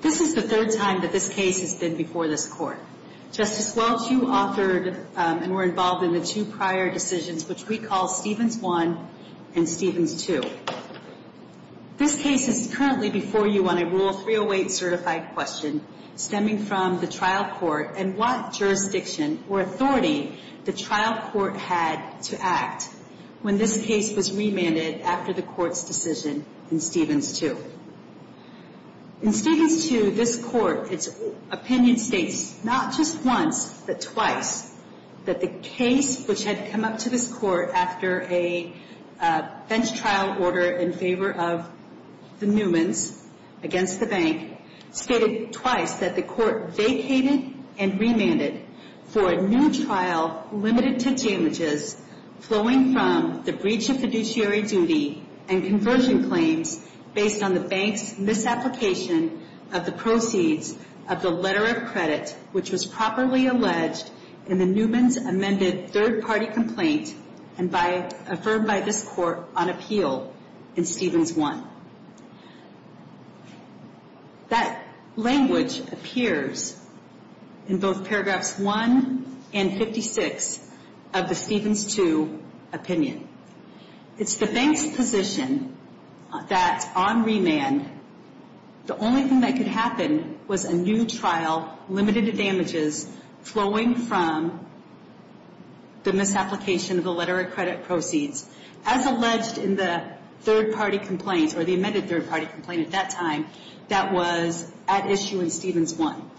This is the third time that this case has been before this court. Justice Welch, you authored and were involved in the two prior decisions which we call Stevens 1 and Stevens 2. This case is currently before you on a Rule 308 certified question stemming from the trial court and what jurisdiction or authority the trial court had to act when this case was remanded after the court's decision in Stevens 2. In Stevens 2, this court, its opinion states not just once but twice that the case which had come up to this court after a bench trial order in favor of the Newmans against the bank stated twice that the court vacated and remanded for a new trial limited to damages flowing from the breach of fiduciary duty and conversion claims based on the bank's misapplication of the proceeds of the letter of credit which was properly alleged in the Newmans' amended third-party complaint and affirmed by this court on appeal in Stevens 1. That language appears in both paragraphs 1 and 56 of the Stevens 2 opinion. It's the bank's position that on remand the only thing that could happen was a new trial limited to damages flowing from the misapplication of the letter of credit proceeds as alleged in the third-party complaint or the amended third-party complaint at that time that was at issue in Stevens 1.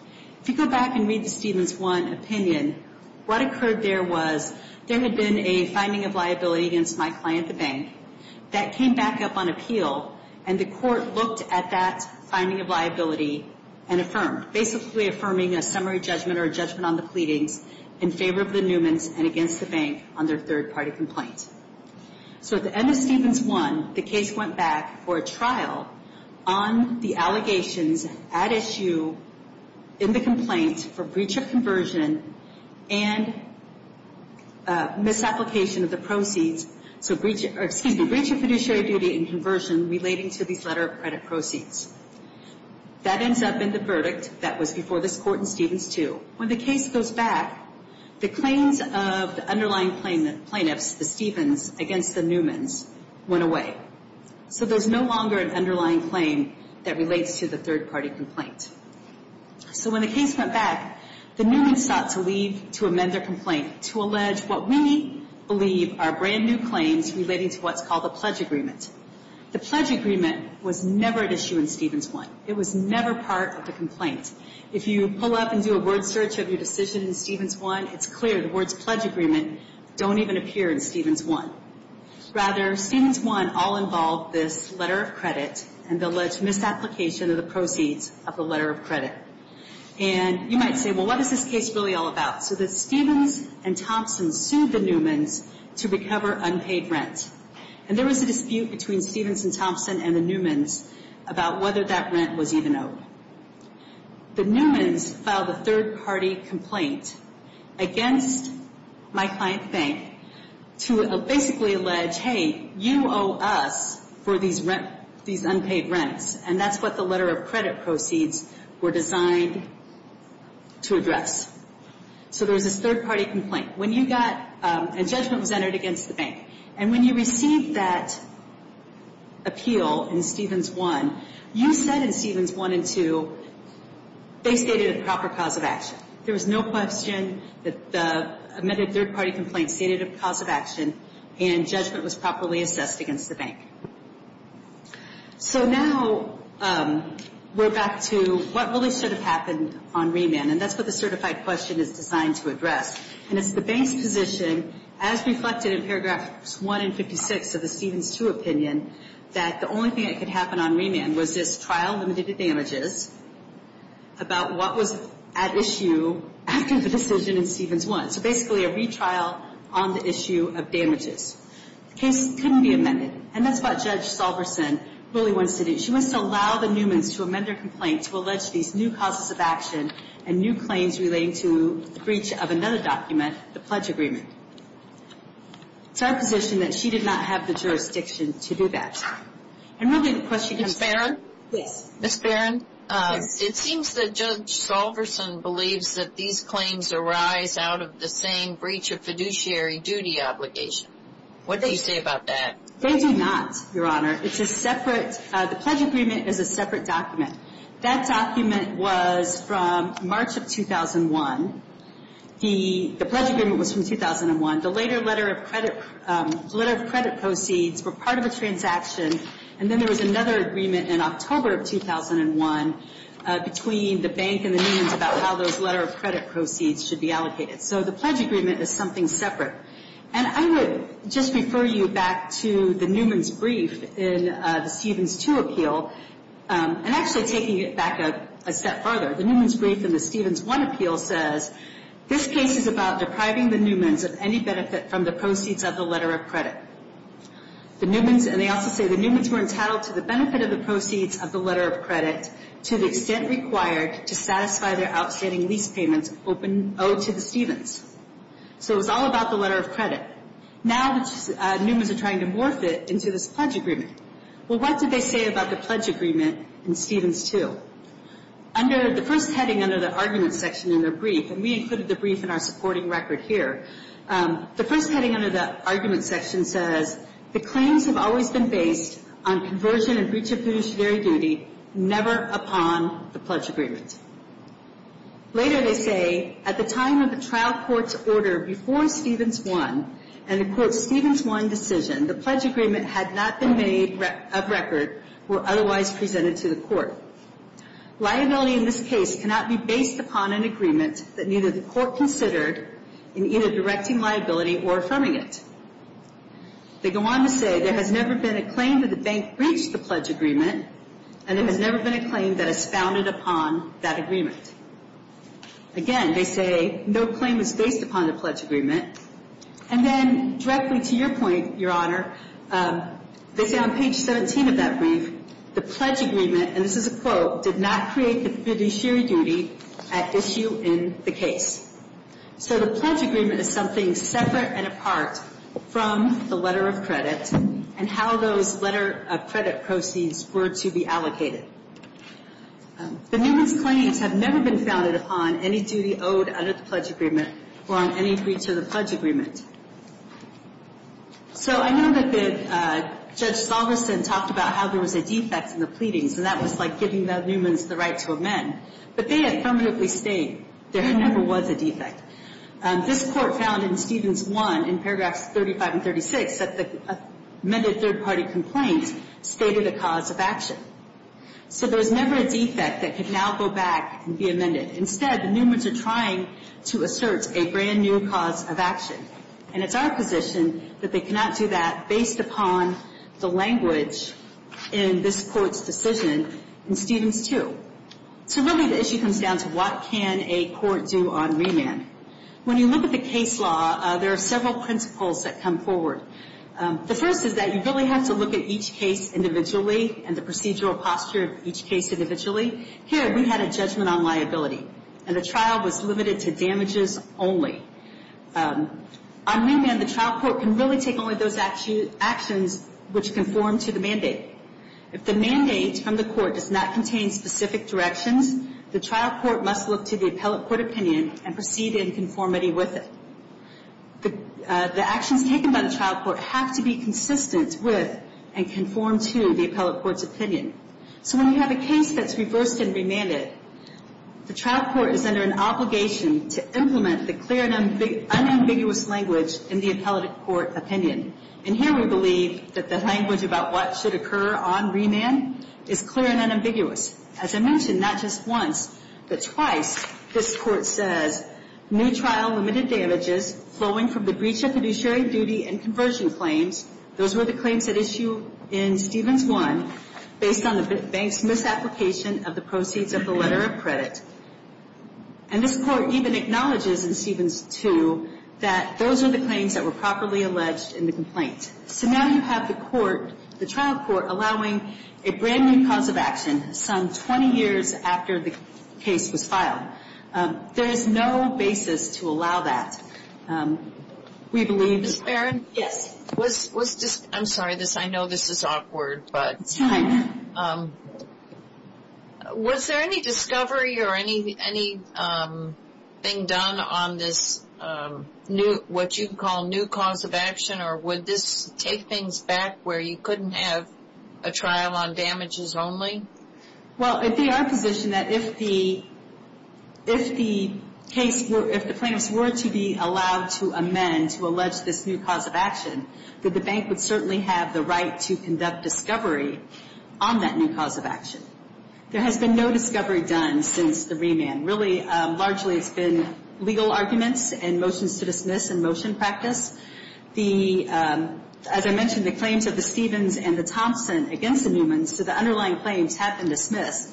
If you go back and read the Stevens 1 opinion, what occurred there was there had been a finding of liability against my client, the bank, that came back up on appeal and the court looked at that finding of liability and affirmed, basically affirming a summary judgment or a judgment on the pleadings in favor of the Newmans and against the bank on their third-party complaint. So at the end of Stevens 1, the case went back for a trial on the allegations at issue in the complaint for breach of conversion and misapplication of the proceeds. So, excuse me, breach of fiduciary duty and conversion relating to these letter of credit proceeds. That ends up in the verdict that was before this court in Stevens 2. When the case goes back, the claims of the underlying plaintiffs, the Stevens, against the Newmans went away. So there's no longer an underlying claim that relates to the third-party complaint. So when the case went back, the Newmans sought to leave to amend their complaint to allege what we believe are brand-new claims relating to what's called a pledge agreement. The pledge agreement was never at issue in Stevens 1. It was never part of the complaint. If you pull up and do a word search of your decision in Stevens 1, it's clear the words pledge agreement don't even appear in Stevens 1. Rather, Stevens 1 all involved this letter of credit and the alleged misapplication of the proceeds of the letter of credit. And you might say, well, what is this case really all about? So the Stevens and Thompson sued the Newmans to recover unpaid rent. And there was a dispute between Stevens and Thompson and the Newmans about whether that rent was even owed. The Newmans filed a third-party complaint against my client bank to basically allege, hey, you owe us for these unpaid rents. And that's what the letter of credit proceeds were designed to address. So there was this third-party complaint. When you got a judgment was entered against the bank. And when you received that appeal in Stevens 1, you said in Stevens 1 and 2, they stated a proper cause of action. There was no question that the third-party complaint stated a cause of action and judgment was properly assessed against the bank. So now we're back to what really should have happened on remand. And it's the bank's position, as reflected in paragraphs 1 and 56 of the Stevens 2 opinion, that the only thing that could happen on remand was this trial limited to damages, about what was at issue after the decision in Stevens 1. So basically a retrial on the issue of damages. The case couldn't be amended. And that's what Judge Salverson really wants to do. She wants to allow the Newmans to amend their complaint to allege these new causes of action and new claims relating to the breach of another document, the pledge agreement. It's our position that she did not have the jurisdiction to do that. And really the question comes back. Ms. Barron? Yes. Ms. Barron? Yes. It seems that Judge Salverson believes that these claims arise out of the same breach of fiduciary duty obligation. What do you say about that? They do not, Your Honor. It's a separate – the pledge agreement is a separate document. That document was from March of 2001. The pledge agreement was from 2001. The later letter of credit proceeds were part of a transaction, and then there was another agreement in October of 2001 between the bank and the Newmans about how those letter of credit proceeds should be allocated. So the pledge agreement is something separate. And I would just refer you back to the Newmans' brief in the Stevens 2 appeal. And actually taking it back a step further, the Newmans' brief in the Stevens 1 appeal says, this case is about depriving the Newmans of any benefit from the proceeds of the letter of credit. The Newmans – and they also say the Newmans were entitled to the benefit of the proceeds of the letter of credit to the extent required to satisfy their outstanding lease payments owed to the Stevens. So it was all about the letter of credit. Now the Newmans are trying to morph it into this pledge agreement. Well, what did they say about the pledge agreement in Stevens 2? Under the first heading under the argument section in their brief, and we included the brief in our supporting record here, the first heading under the argument section says, the claims have always been based on conversion and breach of fiduciary duty, never upon the pledge agreement. Later they say, at the time of the trial court's order before Stevens 1, and the court's Stevens 1 decision, the pledge agreement had not been made up record or otherwise presented to the court. Liability in this case cannot be based upon an agreement that neither the court considered in either directing liability or affirming it. They go on to say, there has never been a claim that the bank breached the pledge agreement, and there has never been a claim that is founded upon that agreement. Again, they say, no claim is based upon the pledge agreement. And then directly to your point, Your Honor, they say on page 17 of that brief, the pledge agreement, and this is a quote, did not create the fiduciary duty at issue in the case. So the pledge agreement is something separate and apart from the letter of credit and how those letter of credit proceeds were to be allocated. The Newman's claims have never been founded upon any duty owed under the pledge agreement or on any breach of the pledge agreement. So I know that Judge Salveson talked about how there was a defect in the pleadings, and that was like giving the Newman's the right to amend. But they affirmatively state there never was a defect. This court found in Stevens 1, in paragraphs 35 and 36, that the amended third-party complaint stated a cause of action. So there was never a defect that could now go back and be amended. Instead, the Newman's are trying to assert a brand-new cause of action, and it's our position that they cannot do that based upon the language in this court's decision in Stevens 2. So really the issue comes down to what can a court do on remand. When you look at the case law, there are several principles that come forward. The first is that you really have to look at each case individually and the procedural posture of each case individually. Here we had a judgment on liability, and the trial was limited to damages only. On remand, the trial court can really take only those actions which conform to the mandate. If the mandate from the court does not contain specific directions, the trial court must look to the appellate court opinion and proceed in conformity with it. The actions taken by the trial court have to be consistent with and conform to the appellate court's opinion. So when you have a case that's reversed and remanded, the trial court is under an obligation to implement the clear and unambiguous language in the appellate court opinion. And here we believe that the language about what should occur on remand is clear and unambiguous. As I mentioned, not just once, but twice, this court says, new trial limited damages flowing from the breach of fiduciary duty and conversion claims, those were the claims at issue in Stevens I, based on the bank's misapplication of the proceeds of the letter of credit. And this court even acknowledges in Stevens II that those are the claims that were properly alleged in the complaint. So now you have the court, the trial court, allowing a brand new cause of action some 20 years after the case was filed. There is no basis to allow that. We believe that- Ms. Barron? Yes. I'm sorry, I know this is awkward, but- It's fine. Was there any discovery or anything done on this new, what you call new cause of action, or would this take things back where you couldn't have a trial on damages only? Well, if they are positioned that if the plaintiffs were to be allowed to amend, to allege this new cause of action, that the bank would certainly have the right to conduct discovery on that new cause of action. There has been no discovery done since the remand. Really, largely it's been legal arguments and motions to dismiss and motion practice. As I mentioned, the claims of the Stevens and the Thompson against the Newmans, so the underlying claims have been dismissed.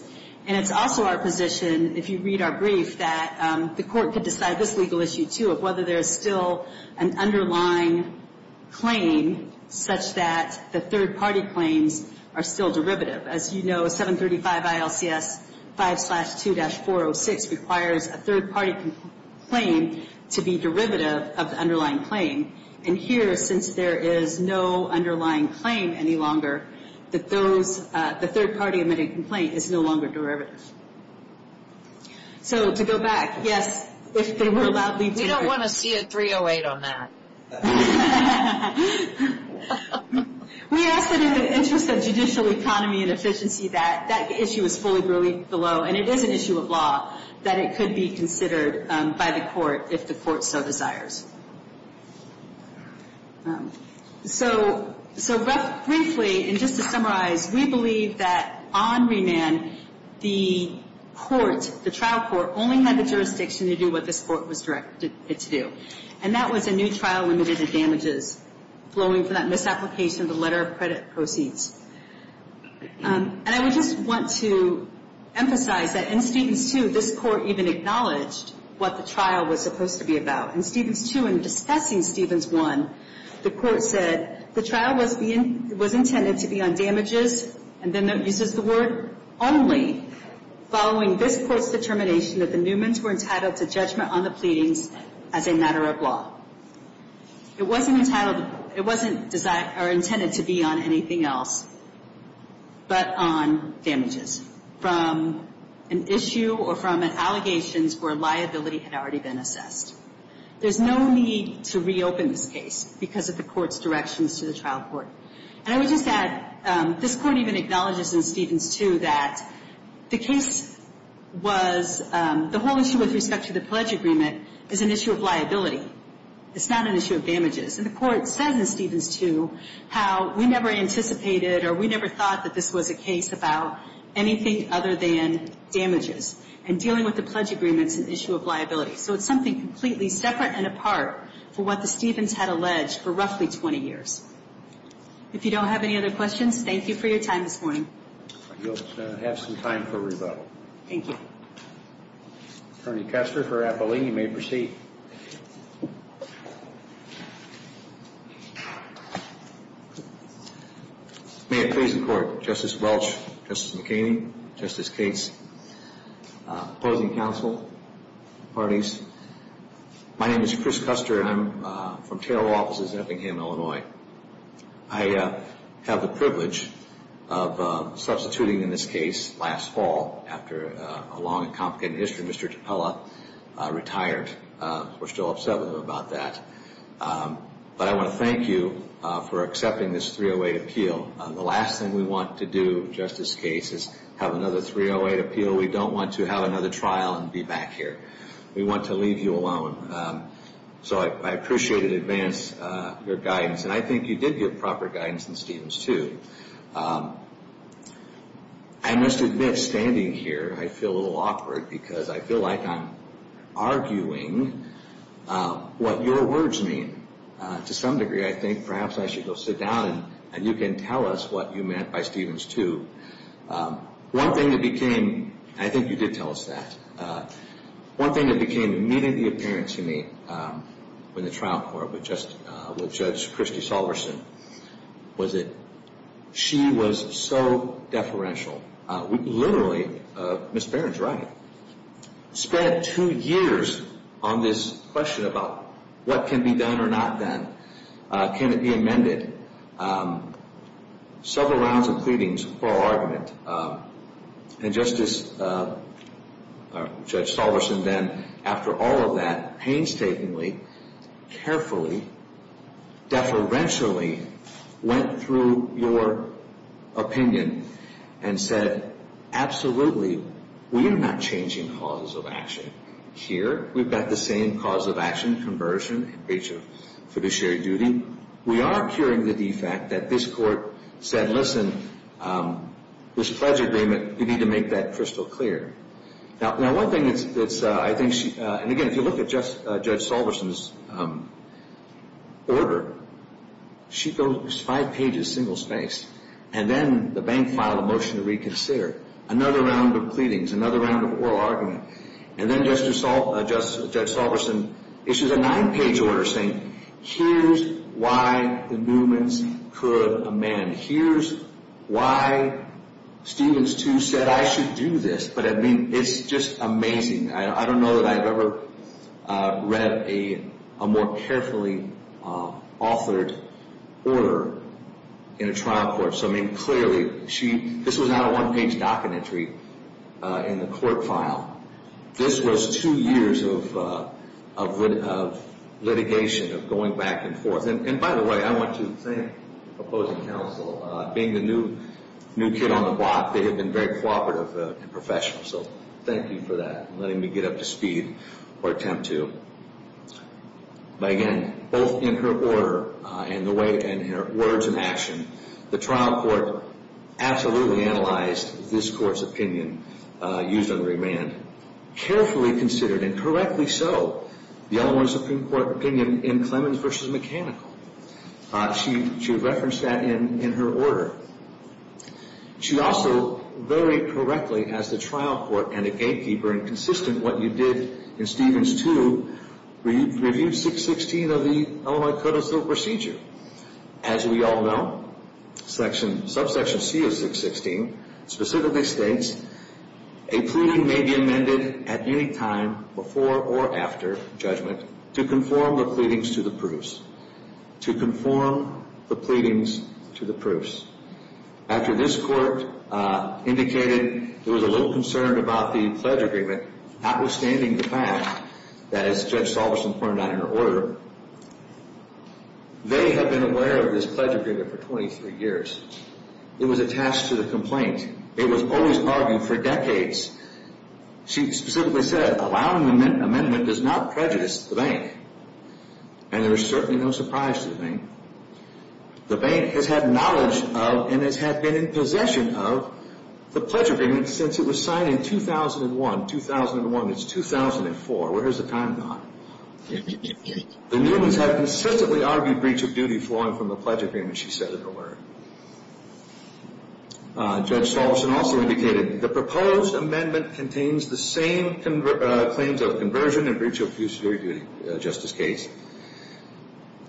And it's also our position, if you read our brief, that the court could decide this legal issue, too, of whether there is still an underlying claim such that the third-party claims are still derivative. As you know, 735 ILCS 5-2-406 requires a third-party claim to be derivative of the underlying claim. And here, since there is no underlying claim any longer, the third-party admitting complaint is no longer derivative. So, to go back, yes, if they were allowed to— We don't want to see a 308 on that. We ask that in the interest of judicial economy and efficiency that that issue is fully relieved below. And it is an issue of law that it could be considered by the court if the court so desires. So, briefly, and just to summarize, we believe that on remand, the court, the trial court, only had the jurisdiction to do what this court was directed it to do. And that was a new trial limited to damages flowing from that misapplication of the letter of credit proceeds. And I would just want to emphasize that in Stevens 2, this court even acknowledged what the trial was supposed to be about. In Stevens 2, in discussing Stevens 1, the court said, the trial was intended to be on damages, and then uses the word, only following this court's determination that the Newman's were entitled to judgment on the pleadings as a matter of law. It wasn't intended to be on anything else but on damages from an issue or from allegations where liability had already been assessed. There's no need to reopen this case because of the court's directions to the trial court. And I would just add, this court even acknowledges in Stevens 2 that the case was, the whole issue with respect to the pledge agreement is an issue of liability. It's not an issue of damages. And the court says in Stevens 2 how we never anticipated or we never thought that this was a case about anything other than damages. So it's something completely separate and apart from what the Stevens had alleged for roughly 20 years. If you don't have any other questions, thank you for your time this morning. You'll have some time for rebuttal. Thank you. Attorney Kester for Appling, you may proceed. Thank you. May it please the Court, Justice Welch, Justice McKinney, Justice Cates, opposing counsel, parties, my name is Chris Kuster and I'm from Terrell offices in Effingham, Illinois. I have the privilege of substituting in this case last fall after a long and complicated history. Mr. Capella retired. We're still upset with him about that. But I want to thank you for accepting this 308 appeal. The last thing we want to do, Justice Cates, is have another 308 appeal. We don't want to have another trial and be back here. We want to leave you alone. So I appreciate and advance your guidance. And I think you did give proper guidance in Stevens 2. I must admit, standing here, I feel a little awkward because I feel like I'm arguing what your words mean. To some degree, I think perhaps I should go sit down and you can tell us what you meant by Stevens 2. One thing that became, and I think you did tell us that, one thing that became immediately apparent to me in the trial court with Judge Christy Salverson was that she was so deferential. Literally, Ms. Barron's right, spent two years on this question about what can be done or not done. Can it be amended? Several rounds of pleadings for argument. And Justice Judge Salverson then, after all of that, painstakingly, carefully, deferentially, went through your opinion and said, absolutely, we are not changing causes of action here. We've got the same cause of action conversion in breach of fiduciary duty. We are curing the defect that this court said, listen, this pledge agreement, you need to make that crystal clear. Now, one thing that's, I think, and again, if you look at Judge Salverson's order, she goes five pages, single-spaced. And then the bank filed a motion to reconsider. Another round of pleadings. Another round of oral argument. And then Justice Judge Salverson issues a nine-page order saying, here's why the movements could amend. Here's why Stevens, too, said I should do this. But, I mean, it's just amazing. I don't know that I've ever read a more carefully authored order in a trial court. So, I mean, clearly, this was not a one-page docket entry in the court file. This was two years of litigation, of going back and forth. And, by the way, I want to thank opposing counsel. Being the new kid on the block, they have been very cooperative and professional. So thank you for that, letting me get up to speed or attempt to. But, again, both in her order and in her words and action, the trial court absolutely analyzed this court's opinion used on remand. Carefully considered, and correctly so, the Eleanor Supreme Court opinion in Clemens v. Mechanical. She referenced that in her order. She also, very correctly, as the trial court and a gatekeeper, and consistent with what you did in Stevens, too, reviewed 616 of the Illinois Codicil procedure. As we all know, subsection C of 616 specifically states, a pleading may be amended at any time before or after judgment to conform the pleadings to the proofs. To conform the pleadings to the proofs. After this court indicated it was a little concerned about the pledge agreement, notwithstanding the fact that, as Judge Salverson pointed out in her order, they have been aware of this pledge agreement for 23 years. It was attached to the complaint. It was always argued for decades. She specifically said, allowing an amendment does not prejudice the bank. And there is certainly no surprise to the bank. The bank has had knowledge of and has been in possession of the pledge agreement since it was signed in 2001. 2001 is 2004. Where has the time gone? The Newmans have consistently argued breach of duty flowing from the pledge agreement, she said in her word. Judge Salverson also indicated, the proposed amendment contains the same claims of conversion and breach of duty in the Justice case,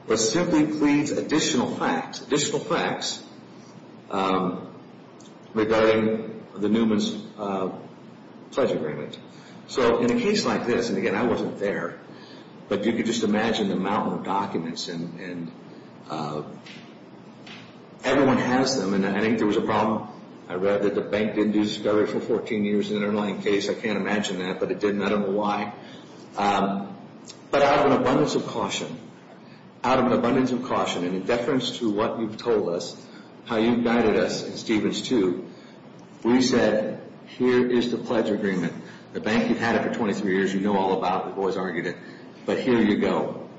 but simply pleads additional facts, additional facts, regarding the Newmans' pledge agreement. So in a case like this, and again, I wasn't there, but you can just imagine the amount of documents and everyone has them. And I think there was a problem. I read that the bank didn't do discovery for 14 years in an underlying case. I can't imagine that, but it didn't. I don't know why. But out of an abundance of caution, out of an abundance of caution, and in deference to what you've told us, how you guided us in Stevens too, we said, here is the pledge agreement. The bank had had it for 23 years. You know all about it. We've always argued it. But here you go.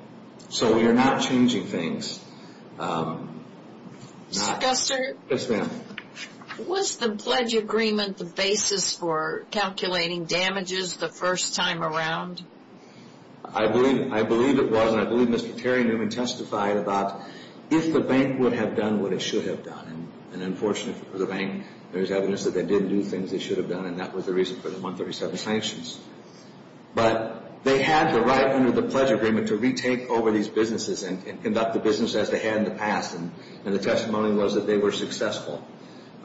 So we are not changing things. Mr. Guster? Yes, ma'am. Was the pledge agreement the basis for calculating damages the first time around? I believe it was, and I believe Mr. Terry Newman testified about if the bank would have done what it should have done. And unfortunately for the bank, there is evidence that they didn't do the things they should have done, and that was the reason for the 137 sanctions. But they had the right under the pledge agreement to retake over these businesses and conduct the business as they had in the past. And the testimony was that they were successful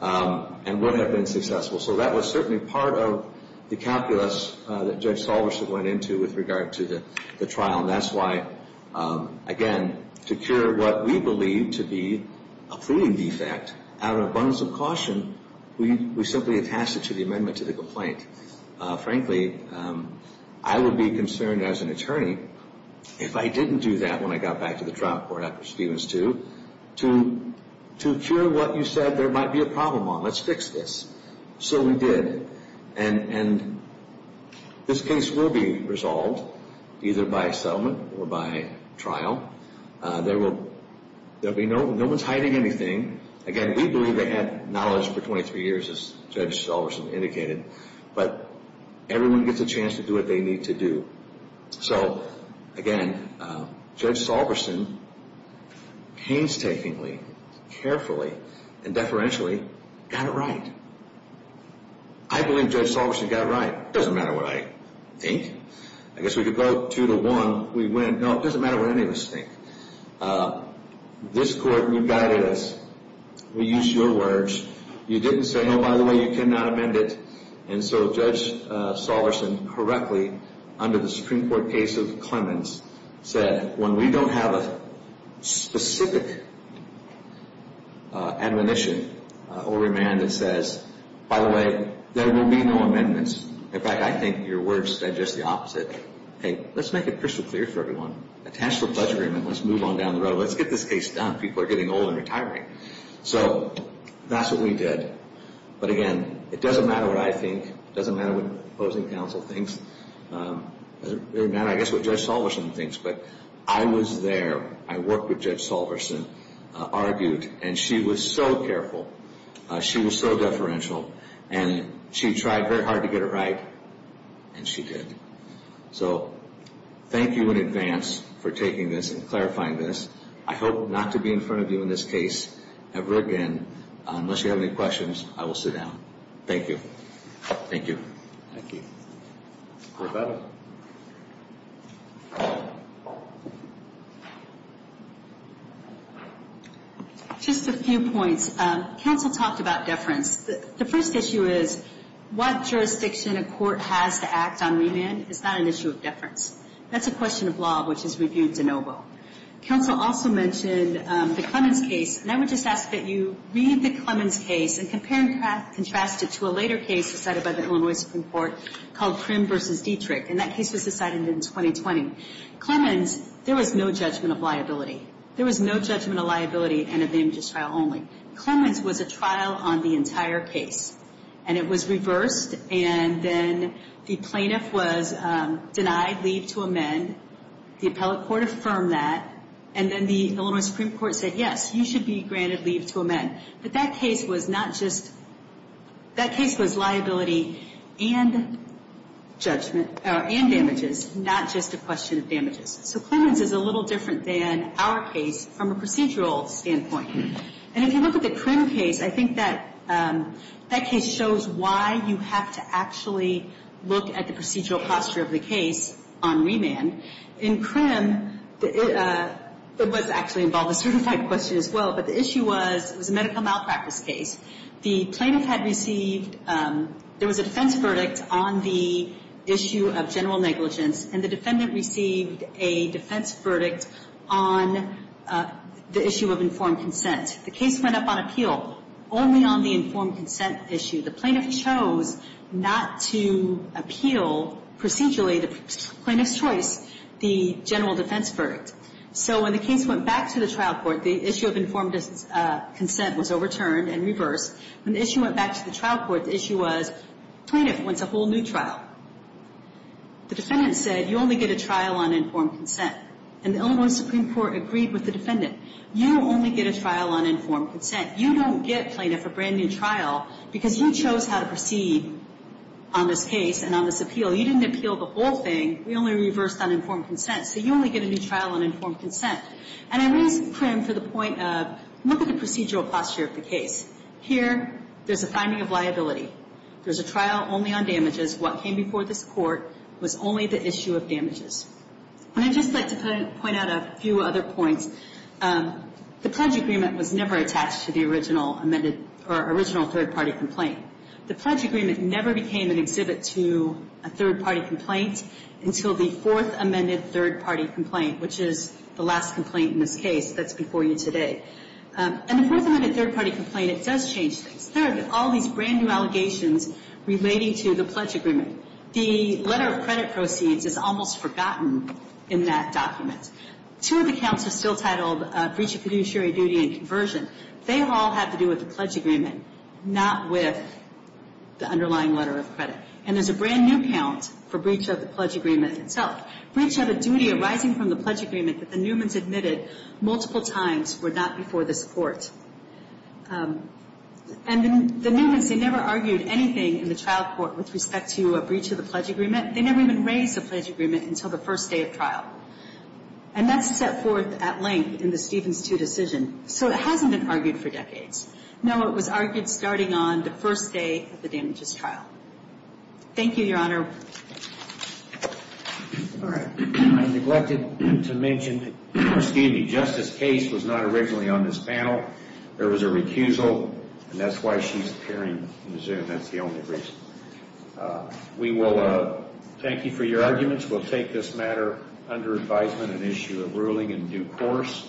and would have been successful. So that was certainly part of the calculus that Judge Salverson went into with regard to the trial. And that's why, again, to cure what we believe to be a fleeting defect, out of an abundance of caution, we simply attached it to the amendment to the complaint. Frankly, I would be concerned as an attorney if I didn't do that when I got back to the trial court after Stevens too, to cure what you said there might be a problem on. Let's fix this. So we did. And this case will be resolved either by settlement or by trial. No one's hiding anything. Again, we believe they had knowledge for 23 years, as Judge Salverson indicated, but everyone gets a chance to do what they need to do. So again, Judge Salverson painstakingly, carefully, and deferentially got it right. I believe Judge Salverson got it right. It doesn't matter what I think. I guess we could go two to one. No, it doesn't matter what any of us think. This court, you guided us. We used your words. You didn't say, oh, by the way, you cannot amend it. And so Judge Salverson correctly, under the Supreme Court case of Clemens, said when we don't have a specific admonition or remand that says, by the way, there will be no amendments. In fact, I think your words said just the opposite. Hey, let's make it crystal clear for everyone. A taxable budget agreement, let's move on down the road. Let's get this case done. People are getting old and retiring. So that's what we did. But again, it doesn't matter what I think. It doesn't matter what opposing counsel thinks. It doesn't matter, I guess, what Judge Salverson thinks. But I was there. I worked with Judge Salverson, argued, and she was so careful. She was so deferential. And she tried very hard to get it right, and she did. So thank you in advance for taking this and clarifying this. I hope not to be in front of you in this case ever again. Unless you have any questions, I will sit down. Thank you. Thank you. Thank you. Roberta. Just a few points. Counsel talked about deference. The first issue is what jurisdiction a court has to act on remand is not an issue of deference. That's a question of law, which is reviewed de novo. Counsel also mentioned the Clemens case, and I would just ask that you read the Clemens case and compare and contrast it to a later case decided by the Illinois Supreme Court called Crim v. Dietrich, and that case was decided in 2020. Clemens, there was no judgment of liability. There was no judgment of liability and a name-just trial only. Clemens was a trial on the entire case, and it was reversed. And then the plaintiff was denied leave to amend. The appellate court affirmed that. And then the Illinois Supreme Court said, yes, you should be granted leave to amend. But that case was not just liability and damages, not just a question of damages. So Clemens is a little different than our case from a procedural standpoint. And if you look at the Crim case, I think that case shows why you have to actually look at the procedural posture of the case on remand. In Crim, it was actually involved a certified question as well, but the issue was it was a medical malpractice case. The plaintiff had received ‑‑ there was a defense verdict on the issue of general negligence, and the defendant received a defense verdict on the issue of informed consent. The case went up on appeal only on the informed consent issue. The plaintiff chose not to appeal procedurally the plaintiff's choice, the general defense verdict. So when the case went back to the trial court, the issue of informed consent was overturned and reversed. When the issue went back to the trial court, the issue was plaintiff wants a whole new trial. The defendant said, you only get a trial on informed consent. And the Illinois Supreme Court agreed with the defendant. You only get a trial on informed consent. You don't get plaintiff a brand new trial because you chose how to proceed on this case and on this appeal. You didn't appeal the whole thing. We only reversed on informed consent. So you only get a new trial on informed consent. And I raise Crim for the point of look at the procedural posture of the case. Here, there's a finding of liability. There's a trial only on damages. What came before this court was only the issue of damages. And I'd just like to point out a few other points. The pledge agreement was never attached to the original amended or original third-party complaint. The pledge agreement never became an exhibit to a third-party complaint until the fourth amended third-party complaint, which is the last complaint in this case that's before you today. And the fourth amended third-party complaint, it does change things. Third, all these brand-new allegations relating to the pledge agreement. The letter of credit proceeds is almost forgotten in that document. Two of the counts are still titled breach of fiduciary duty and conversion. They all have to do with the pledge agreement, not with the underlying letter of credit. And there's a brand-new count for breach of the pledge agreement itself. Breach of a duty arising from the pledge agreement that the Newmans admitted multiple times were not before this court. And the Newmans, they never argued anything in the trial court with respect to a breach of the pledge agreement. They never even raised a pledge agreement until the first day of trial. And that's set forth at length in the Stevens II decision. So it hasn't been argued for decades. No, it was argued starting on the first day of the damages trial. Thank you, Your Honor. All right. I neglected to mention that Justice Case was not originally on this panel. There was a recusal, and that's why she's appearing in the Zoom. That's the only reason. We will thank you for your arguments. We'll take this matter under advisement and issue a ruling in due course.